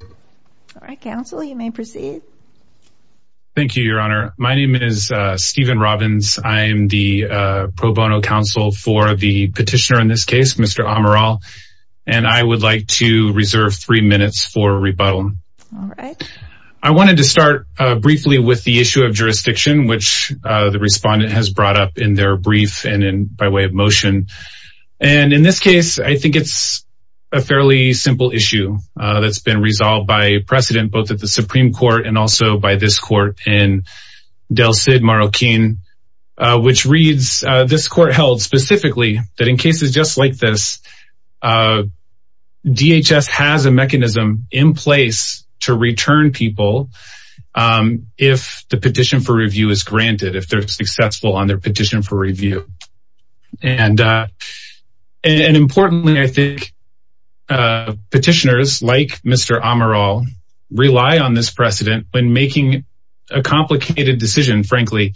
All right, counsel, you may proceed. Thank you, your honor. My name is Steven Robbins. I am the pro bono counsel for the petitioner in this case, Mr. Amaral, and I would like to reserve three minutes for rebuttal. All right. I wanted to start briefly with the issue of jurisdiction, which the respondent has brought up in their brief and by way of motion. And in this case, I think it's a fairly simple issue that's been resolved by precedent, both at the Supreme Court and also by this court in Del Cid, Marroquin, which reads, this court held specifically that in cases just like this, DHS has a mechanism in place to return people if the petition for review is granted, if they're successful on their petition for review. And importantly, I think, petitioners like Mr. Amaral rely on this precedent when making a complicated decision, frankly,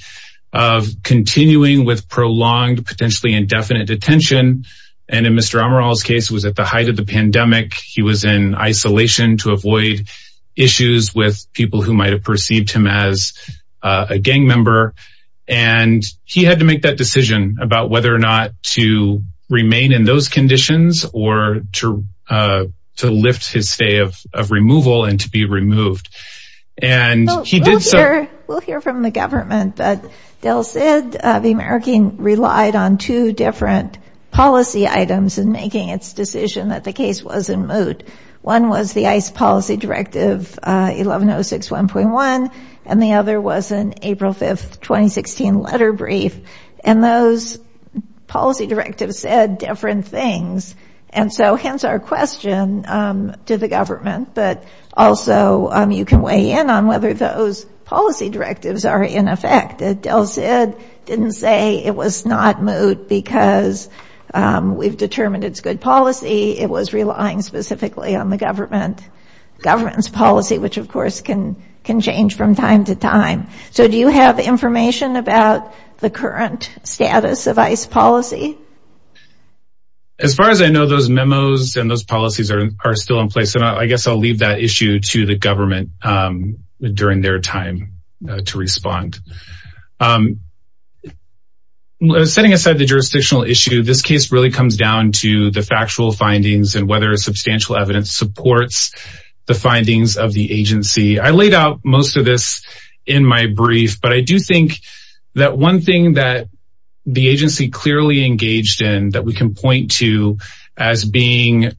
of continuing with prolonged, potentially indefinite detention. And in Mr. Amaral's case, it was at the height of the pandemic. He was in isolation to avoid issues with people who might've perceived him as a gang member. And he had to make that decision about whether or not to remain in those conditions or to lift his stay of removal and to be removed. And he did so- We'll hear from the government, but Del Cid, the Marroquin, relied on two different policy items in making its decision that the case was in moot. One was the ICE policy directive 11061.1, and the other was an April 5th, 2016 letter brief. And those policy directives said different things. And so hence our question to the government, but also you can weigh in on whether those policy directives are in effect. Del Cid didn't say it was not moot because we've determined it's good policy. It was relying specifically on the government's policy, which of course can change from time to time. So do you have information about the current status of ICE policy? As far as I know, those memos and those policies are still in place. And I guess I'll leave that issue to the government during their time to respond. Setting aside the jurisdictional issue, this case really comes down to the factual findings and whether substantial evidence supports the findings of the agency. I laid out most of this in my brief, but I do think that one thing that the agency clearly engaged in that we can point to as being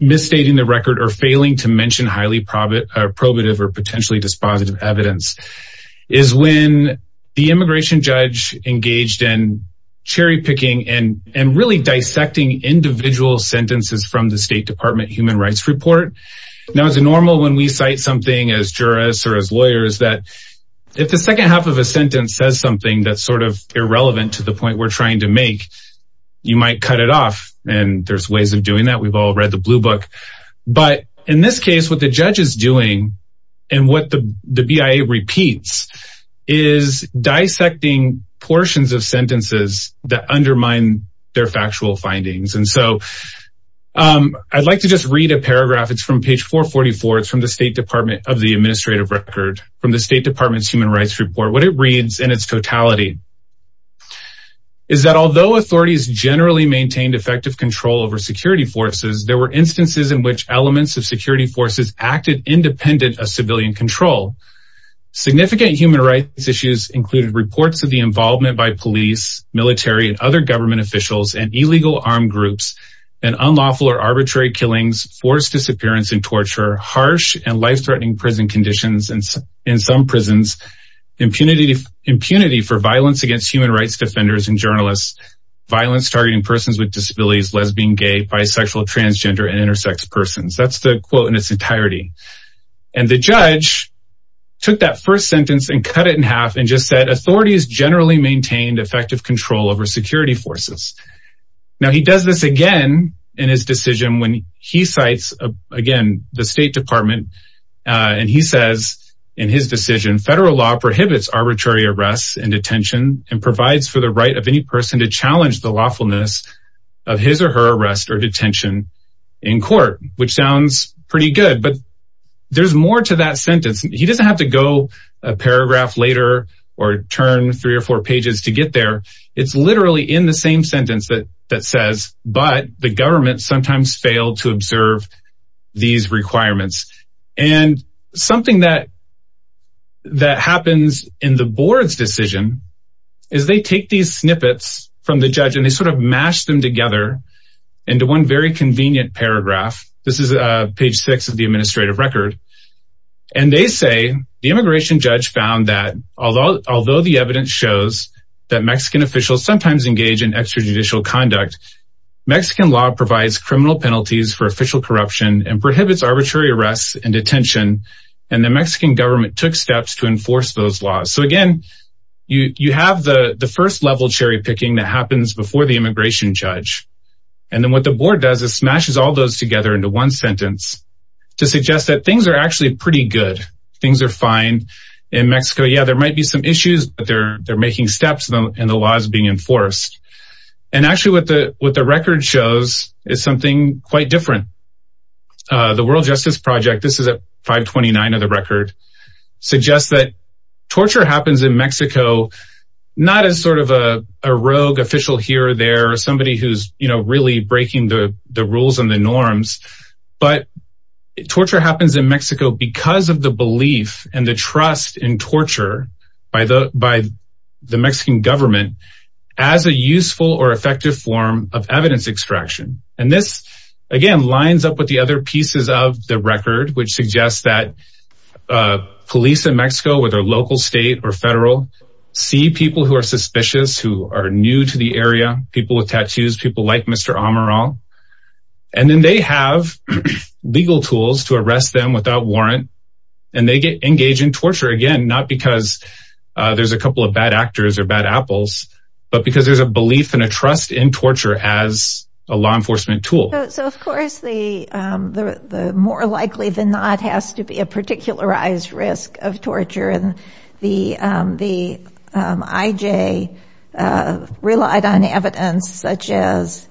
misstating the record or failing to mention highly probative or potentially dispositive evidence is when the immigration judge engaged in cherry picking and really dissecting individual sentences from the State Department Human Rights Report. Now, it's normal when we cite something as jurists or as lawyers, that if the second half of a sentence says something that's sort of irrelevant to the point we're trying to make, you might cut it off. And there's ways of doing that. We've all read the blue book. But in this case, what the judge is doing and what the BIA repeats is dissecting portions of sentences that undermine their factual findings. And so I'd like to just read a paragraph. It's from page 444. It's from the State Department of the Administrative Record from the State Department's Human Rights Report. What it reads in its totality is that although authorities generally maintained effective control over security forces, there were instances in which elements of security forces acted independent of civilian control. Significant human rights issues included reports of the involvement by police, military, and other government officials and illegal armed groups and unlawful or arbitrary killings forced disappearance and torture, harsh and life-threatening prison conditions in some prisons, impunity for violence against human rights defenders and journalists, violence targeting persons with disabilities, lesbian, gay, bisexual, transgender, and intersex persons. That's the quote in its entirety. And the judge took that first sentence and cut it in half and just said authorities generally maintained effective control over security forces. Now he does this again in his decision when he cites, again, the State Department, and he says in his decision, federal law prohibits arbitrary arrests and detention and provides for the right of any person to challenge the lawfulness of his or her arrest or detention in court, which sounds pretty good, but there's more to that sentence. He doesn't have to go a paragraph later or turn three or four pages to get there. It's literally in the same sentence that says, but the government sometimes failed to observe these requirements. And something that happens in the board's decision is they take these snippets from the judge and they sort of mash them together into one very convenient paragraph. This is page six of the administrative record. And they say the immigration judge found that although the evidence shows that Mexican officials sometimes engage in extrajudicial conduct, Mexican law provides criminal penalties for official corruption and prohibits arbitrary arrests and detention. And the Mexican government took steps to enforce those laws. So again, you have the first level cherry picking that happens before the immigration judge. And then what the board does is smashes all those together into one sentence to suggest that things are actually pretty good. Things are fine in Mexico. Yeah, there might be some issues, but they're making steps and the law is being enforced. And actually what the record shows is something quite different. The World Justice Project, this is at 529 of the record, suggests that torture happens in Mexico, not as sort of a rogue official here or there, or somebody who's really breaking the rules and the norms, but torture happens in Mexico because of the belief and the trust in torture by the Mexican government as a useful or effective form of evidence extraction. And this, again, lines up with the other pieces of the record, which suggests that police in Mexico, whether local, state, or federal, see people who are suspicious, who are new to the area, people with tattoos, people like Mr. Amaral, and then they have legal tools to arrest them without warrant, and they get engaged in torture, again, not because there's a couple of bad actors or bad apples, but because there's a belief and a trust in torture as a law enforcement tool. So, of course, the more likely than not has to be a particularized risk of torture. And the IJ relied on evidence, such as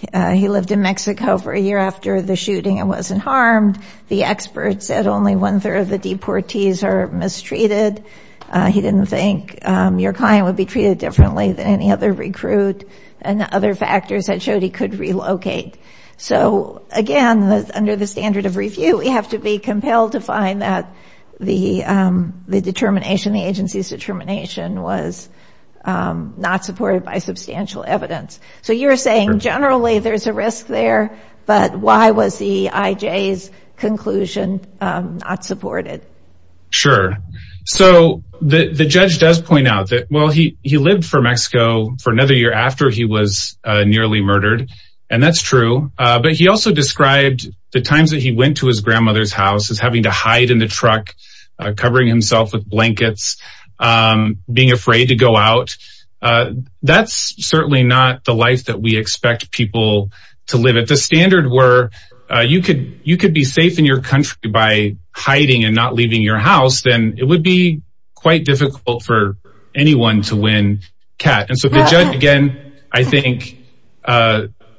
he lived in Mexico for a year after the shooting and wasn't harmed. The expert said only one third of the deportees are mistreated. He didn't think your client would be treated differently than any other recruit, and the other factors had showed he could relocate. So, again, under the standard of review, we have to be compelled to find that the determination, the agency's determination, was not supported by substantial evidence. So you're saying generally there's a risk there, but why was the IJ's conclusion not supported? Sure, so the judge does point out that, well, he lived for Mexico for another year after he was nearly murdered, and that's true, but he also described the times that he went to his grandmother's house as having to hide in the truck, covering himself with blankets, being afraid to go out. That's certainly not the life that we expect people to live at the standard where you could be safe in your country by hiding and not leaving your house, then it would be quite difficult for anyone to win CAT. And so the judge, again, I think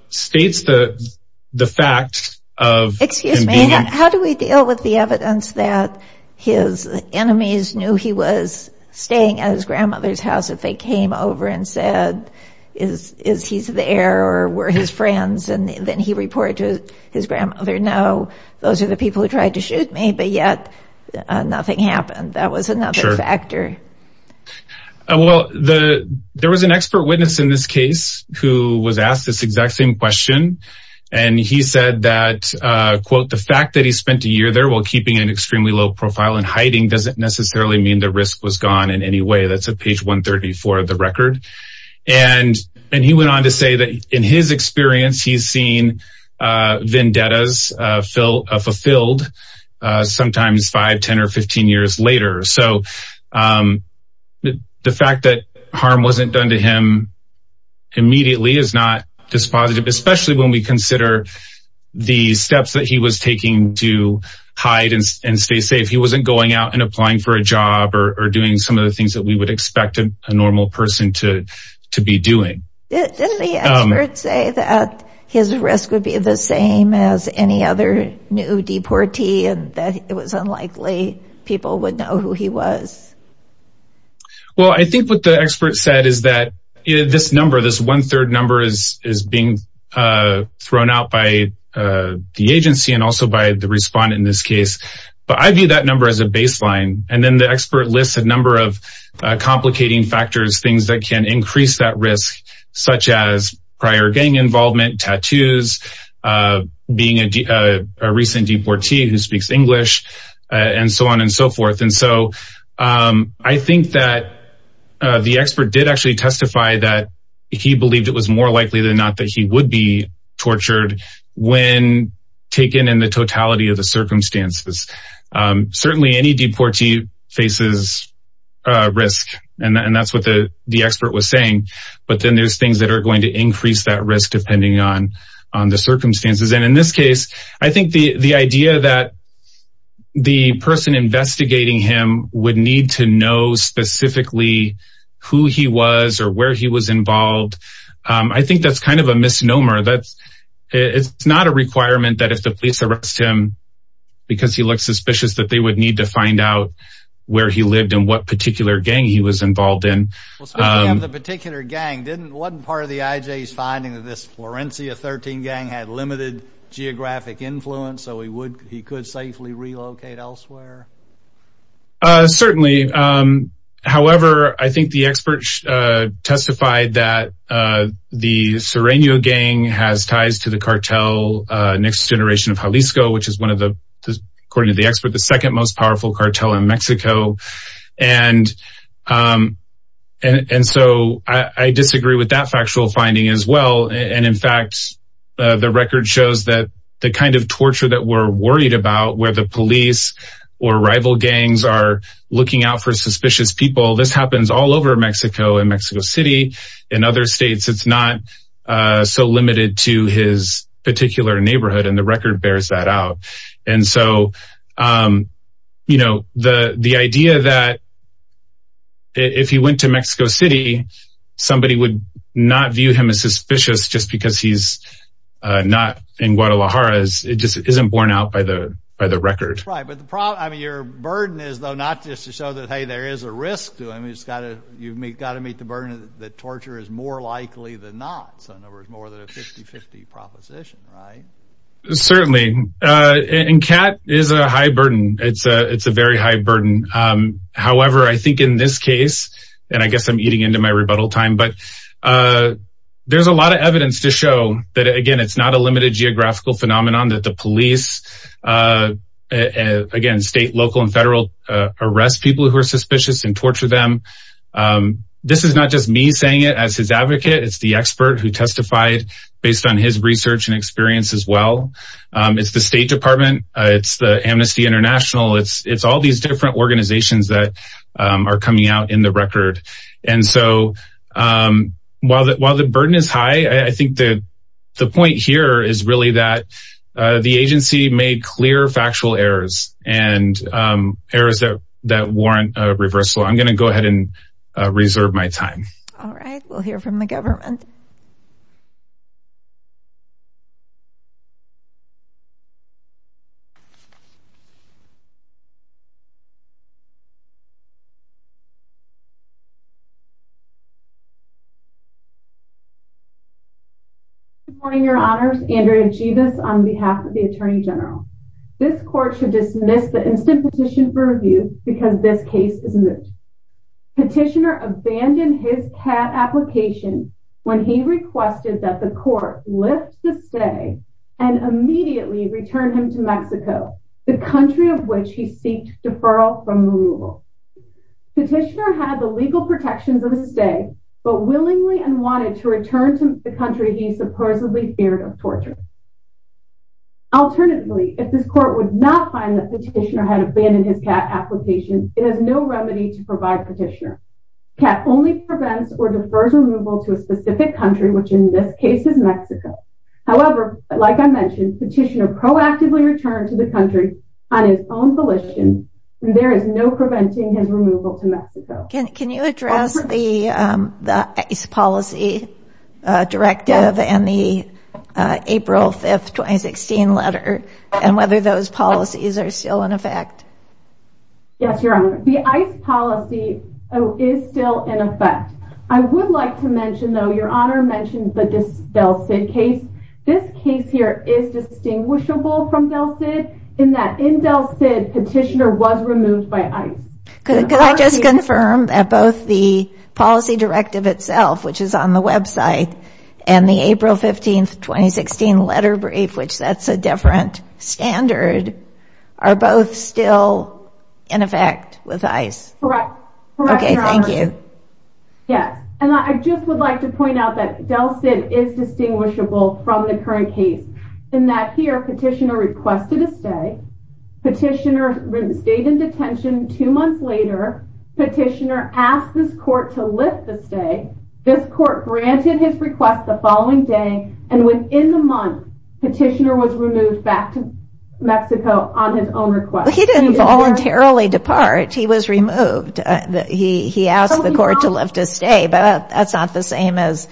states the fact of- Excuse me, how do we deal with the evidence that his enemies knew he was staying at his grandmother's house if they came over and said, is he's there or were his friends? And then he reported to his grandmother, no, those are the people who tried to shoot me, but yet nothing happened. That was another factor. Well, there was an expert witness in this case who was asked this exact same question. And he said that, quote, the fact that he spent a year there while keeping an extremely low profile in hiding doesn't necessarily mean the risk was gone in any way. That's at page 134 of the record. And he went on to say that in his experience, he's seen vendettas fulfilled sometimes five, 10 or 15 years later. So the fact that harm wasn't done to him immediately is not dispositive, especially when we consider the steps that he was taking to hide and stay safe. He wasn't going out and applying for a job or doing some of the things that we would expect a normal person to be doing. Didn't the expert say that his risk would be the same as any other new deportee and that it was unlikely people would know who he was? Well, I think what the expert said is that this number, this one third number is being thrown out by the agency and also by the respondent in this case. But I view that number as a baseline. And then the expert lists a number of complicating factors, things that can increase that risk, such as prior gang involvement, tattoos, being a recent deportee who speaks English and so on and so forth. And so I think that the expert did actually testify that he believed it was more likely than not that he would be tortured when taken in the totality of the circumstances. Certainly any deportee faces a risk and that's what the expert was saying. But then there's things that are going to increase that risk depending on the circumstances. And in this case, I think the idea that the person investigating him would need to know specifically who he was or where he was involved. I think that's kind of a misnomer that it's not a requirement that if the police arrest him because he looked suspicious that they would need to find out where he lived and what particular gang he was involved in. Well, speaking of the particular gang, wasn't part of the IJ's finding that this Florencia 13 gang had limited geographic influence so he could safely relocate elsewhere? Certainly. However, I think the experts testified that the Sereno gang has ties to the cartel Next Generation of Jalisco, which is one of the, according to the expert, the second most powerful cartel in Mexico. And so I disagree with that factual finding as well. And in fact, the record shows that the kind of torture that we're worried about where the police or rival gangs are looking out for suspicious people, this happens all over Mexico and Mexico City and other states. It's not so limited to his particular neighborhood and the record bears that out. And so the idea that if he went to Mexico City, somebody would not view him as suspicious just because he's not in Guadalajara, it just isn't borne out by the record. Right, but the problem, I mean, your burden is though, not just to show that, hey, there is a risk to him. You've got to meet the burden that torture is more likely than not. So in other words, more than a 50-50 proposition, right? Certainly, and cat is a high burden. It's a very high burden. However, I think in this case, and I guess I'm eating into my rebuttal time, but there's a lot of evidence to show that, again, it's not a limited geographical phenomenon that the police, again, state, local and federal arrest people who are suspicious and torture them. This is not just me saying it as his advocate, it's the expert who testified based on his research and experience as well. It's the State Department, it's the Amnesty International, it's all these different organizations that are coming out in the record. And so while the burden is high, I think that the point here is really that the agency made clear factual errors and errors that warrant a reversal. I'm gonna go ahead and reserve my time. All right, we'll hear from the government. Thank you. Good morning, your honors. Andrea Jebus on behalf of the Attorney General. This court should dismiss the instant petition for review because this case is moot. Petitioner abandoned his cat application when he requested that the court lift the stay and immediately return him to Mexico, the country of which he seeked deferral from removal. Petitioner had the legal protections of the stay, but willingly and wanted to return to the country he supposedly feared of torture. Alternatively, if this court would not find that Petitioner had abandoned his cat application, it has no remedy to provide Petitioner. Cat only prevents or defers removal to a specific country, which in this case is Mexico. However, like I mentioned, Petitioner proactively returned to the country on his own volition. There is no preventing his removal to Mexico. Can you address the ICE policy directive and the April 5th, 2016 letter and whether those policies are still in effect? Yes, your honor. The ICE policy is still in effect. I would like to mention though, your honor mentioned the Del Cid case. This case here is distinguishable from Del Cid in that in Del Cid, Petitioner was removed by ICE. Could I just confirm that both the policy directive itself, which is on the website and the April 15th, 2016 letter brief, which that's a different standard, are both still in effect with ICE? Correct, your honor. Okay, thank you. Yes, and I just would like to point out that Del Cid is distinguishable from the current case in that here, Petitioner requested a stay. Petitioner stayed in detention. Two months later, Petitioner asked this court to lift the stay. This court granted his request the following day and within the month, Petitioner was removed back to Mexico on his own request. He didn't voluntarily depart. He was removed. He asked the court to lift his stay, but that's not the same as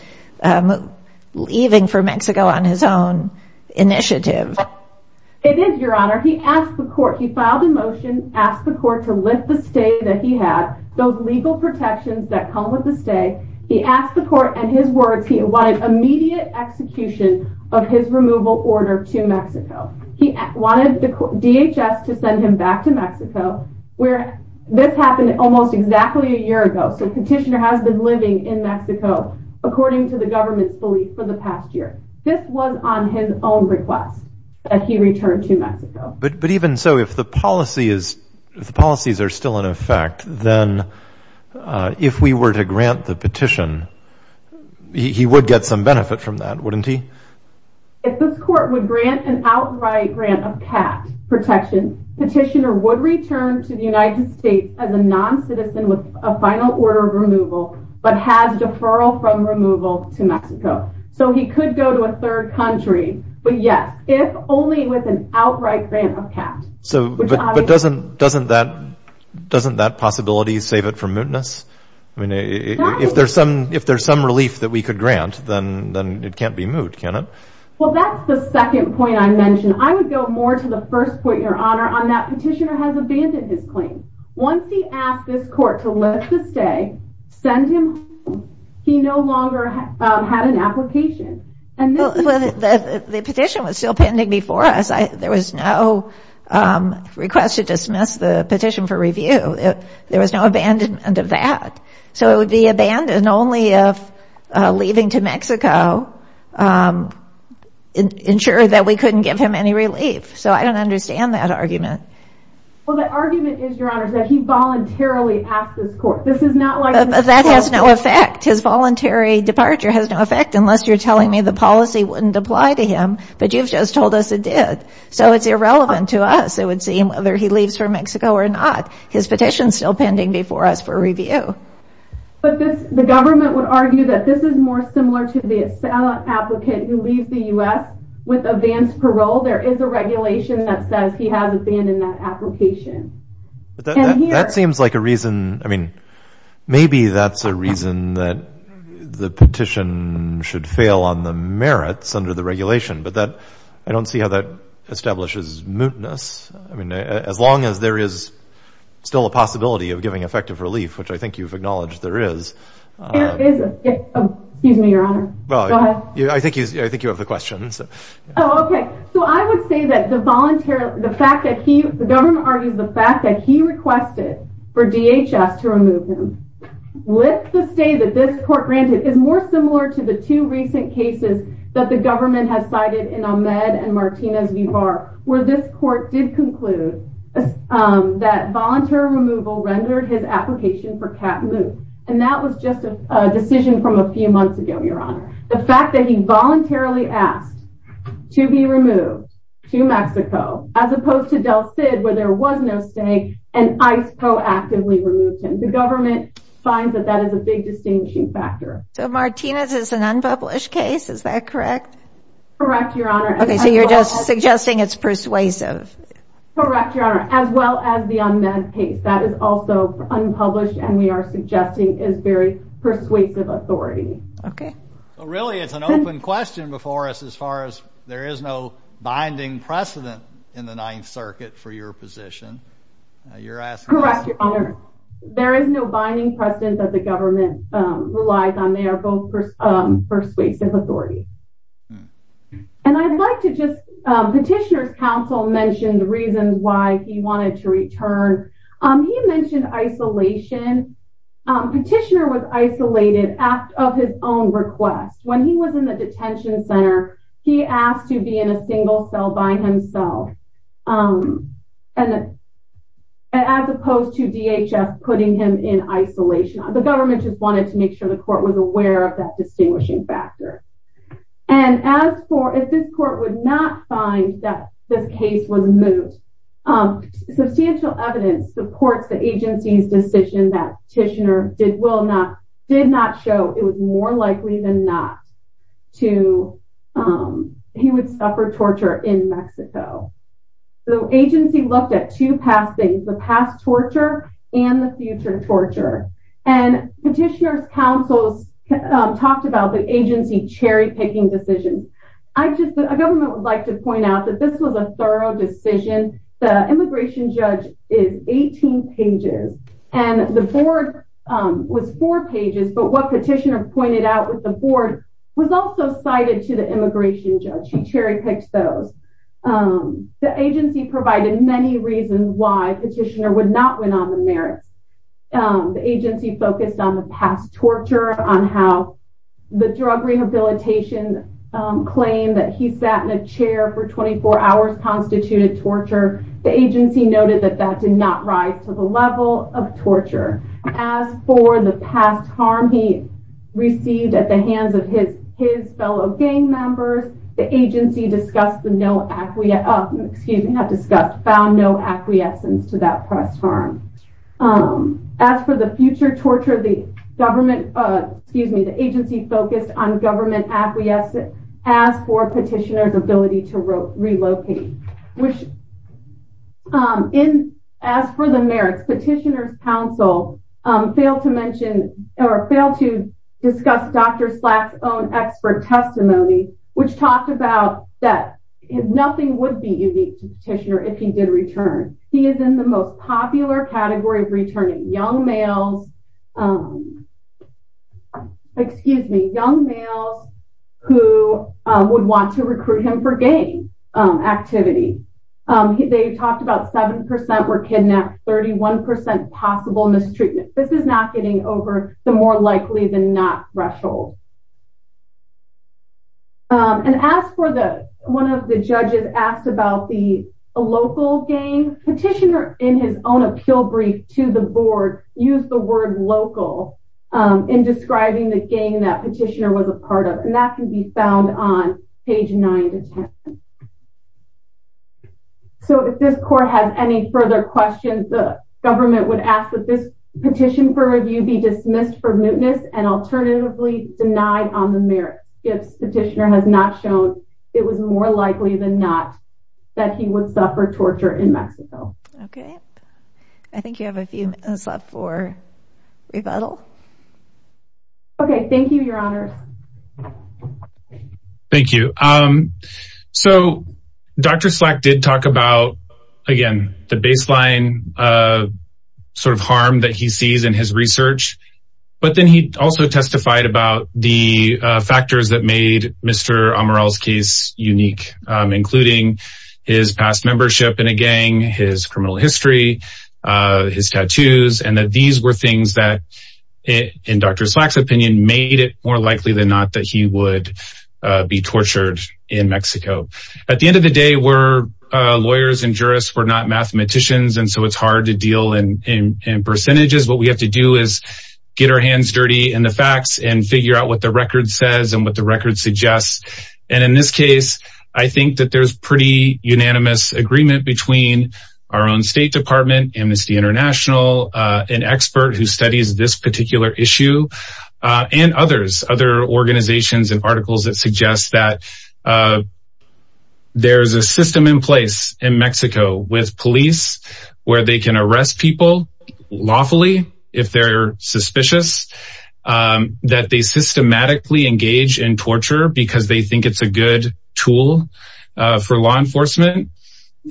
leaving for Mexico on his own initiative. It is, your honor. He asked the court, he filed a motion, asked the court to lift the stay that he had, those legal protections that come with the stay. He asked the court and his words, he wanted immediate execution of his removal order to Mexico. He wanted DHS to send him back to Mexico, where this happened almost exactly a year ago. So Petitioner has been living in Mexico, according to the government's belief for the past year. This was on his own request that he returned to Mexico. But even so, if the policies are still in effect, then if we were to grant the petition, he would get some benefit from that, wouldn't he? If this court would grant an outright grant of capped protection, Petitioner would return to the United States as a non-citizen with a final order of removal, but has deferral from removal to Mexico. So he could go to a third country, but yes, if only with an outright grant of capped. So, but doesn't that possibility save it from mootness? I mean, if there's some relief that we could grant, then it can't be moot, can it? Well, that's the second point I mentioned. I would go more to the first point, Your Honor, on that Petitioner has abandoned his claim. Once he asked this court to let him stay, send him home, he no longer had an application. And this is- The petition was still pending before us. There was no request to dismiss the petition for review. There was no abandonment of that. So it would be abandoned only if leaving to Mexico ensured that we couldn't give him any relief. So I don't understand that argument. Well, the argument is, Your Honor, that he voluntarily asked this court. This is not like- But that has no effect. His voluntary departure has no effect unless you're telling me the policy wouldn't apply to him, but you've just told us it did. So it's irrelevant to us. It would seem whether he leaves for Mexico or not, his petition's still pending before us for review. But the government would argue that this is more similar to the assailant applicant who leaves the U.S. with advanced parole. There is a regulation that says he has abandoned that application. That seems like a reason- I mean, maybe that's a reason that the petition should fail on the merits under the regulation, but I don't see how that establishes mootness. I mean, as long as there is still a possibility of giving effective relief, which I think you've acknowledged there is. Excuse me, Your Honor. Go ahead. I think you have the questions. Oh, okay. So I would say that the volunteer, the fact that he, the government argues the fact that he requested for DHS to remove him with the stay that this court granted is more similar to the two recent cases that the government has cited in Ahmed and Martinez v. Barr, where this court did conclude that volunteer removal rendered his application for cap moot. And that was just a decision from a few months ago, Your Honor. The fact that he voluntarily asked to be removed to Mexico as opposed to Del Cid, where there was no stay and ICE proactively removed him. The government finds that that is a big distinguishing factor. So Martinez is an unpublished case. Is that correct? Correct, Your Honor. Okay, so you're just suggesting it's persuasive. Correct, Your Honor, as well as the Ahmed case. That is also unpublished and we are suggesting is very persuasive authority. Okay. Well, really, it's an open question before us as far as there is no binding precedent in the Ninth Circuit for your position. You're asking- Correct, Your Honor. There is no binding precedent that the government relies on. They are both persuasive authorities. And I'd like to just, Petitioner's counsel mentioned the reasons why he wanted to return. He mentioned isolation. Petitioner was isolated of his own request. When he was in the detention center, he asked to be in a single cell by himself and as opposed to DHS putting him in isolation. The government just wanted to make sure the court was aware of that distinguishing factor. And as for, if this court would not find that this case was moved, substantial evidence supports the agency's decision that Petitioner did not show it was more likely than not to, he would suffer torture in Mexico. So agency looked at two past things, the past torture and the future torture. And Petitioner's counsel talked about the agency cherry picking decisions. I just, the government would like to point out that this was a thorough decision. The immigration judge is 18 pages and the board was four pages, but what Petitioner pointed out with the board was also cited to the immigration judge. He cherry picked those. The agency provided many reasons why Petitioner would not win on the merits. The agency focused on the past torture, on how the drug rehabilitation claim that he sat in a chair for 24 hours constituted torture. The agency noted that that did not rise to the level of torture. As for the past harm he received at the hands of his fellow gang members, the agency discussed the no, excuse me, not discussed, found no acquiescence to that past harm. As for the future torture, the government, excuse me, the agency focused on government acquiescent as for Petitioner's ability to relocate, which in, as for the merits, Petitioner's counsel failed to mention or failed to discuss Dr. Slack's own expert testimony, which talked about that nothing would be unique to Petitioner if he did return. He is in the most popular category of returning young males, excuse me, young males who would want to recruit him for gang activity. They talked about 7% were kidnapped, 31% possible mistreatment. This is not getting over the more likely than not threshold. And as for the, one of the judges asked about the local gang, Petitioner in his own appeal brief to the board used the word local in describing the gang that Petitioner was a part of. And that can be found on page nine to 10. So if this court has any further questions, the government would ask that this petition for review be dismissed for mootness and alternatively denied on the merits. If Petitioner has not shown it was more likely than not that he would suffer torture in Mexico. Okay, I think you have a few minutes left for rebuttal. Okay, thank you, your honor. Thank you. So Dr. Slack did talk about, again, the baseline sort of harm that he sees in his research, but then he also testified about the factors that made Mr. Amaral's case unique, including his past membership in a gang, his criminal history, his tattoos, and that these were things that in Dr. Slack's opinion made it more likely than not that he would be tortured in Mexico. At the end of the day, we're lawyers and jurists, we're not mathematicians. And so it's hard to deal in percentages. What we have to do is get our hands dirty in the facts and figure out what the record says and what the record suggests. And in this case, I think that there's pretty unanimous agreement between our own State Department, Amnesty International, an expert who studies this particular issue, and others, other organizations and articles that suggest that there's a system in place in Mexico with police where they can arrest people lawfully if they're suspicious, that they systematically engage in torture because they think it's a good tool for law enforcement.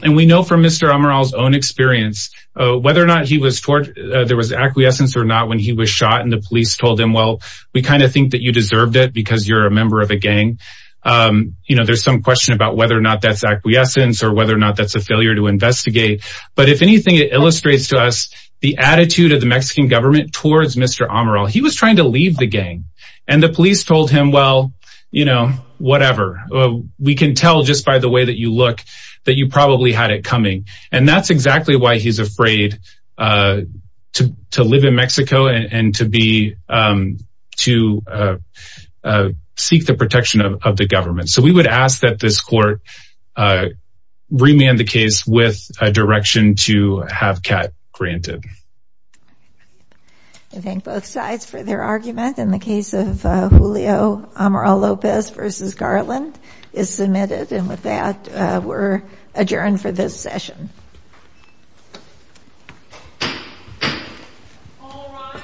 And we know from Mr. Amaral's own experience, whether or not he was tortured, there was acquiescence or not when he was shot and the police told him, well, we kind of think that you deserved it because you're a member of a gang. There's some question about whether or not that's acquiescence or whether or not that's a failure to investigate. But if anything, it illustrates to us the attitude of the Mexican government towards Mr. Amaral. He was trying to leave the gang. And the police told him, well, you know, whatever. We can tell just by the way that you look that you probably had it coming. And that's exactly why he's afraid to live in Mexico and to seek the protection of the government. So we would ask that this court remand the case with a direction to have cat granted. Thank you. I thank both sides for their argument. In the case of Julio Amaral Lopez versus Garland is submitted and with that, we're adjourned for this session. All rise.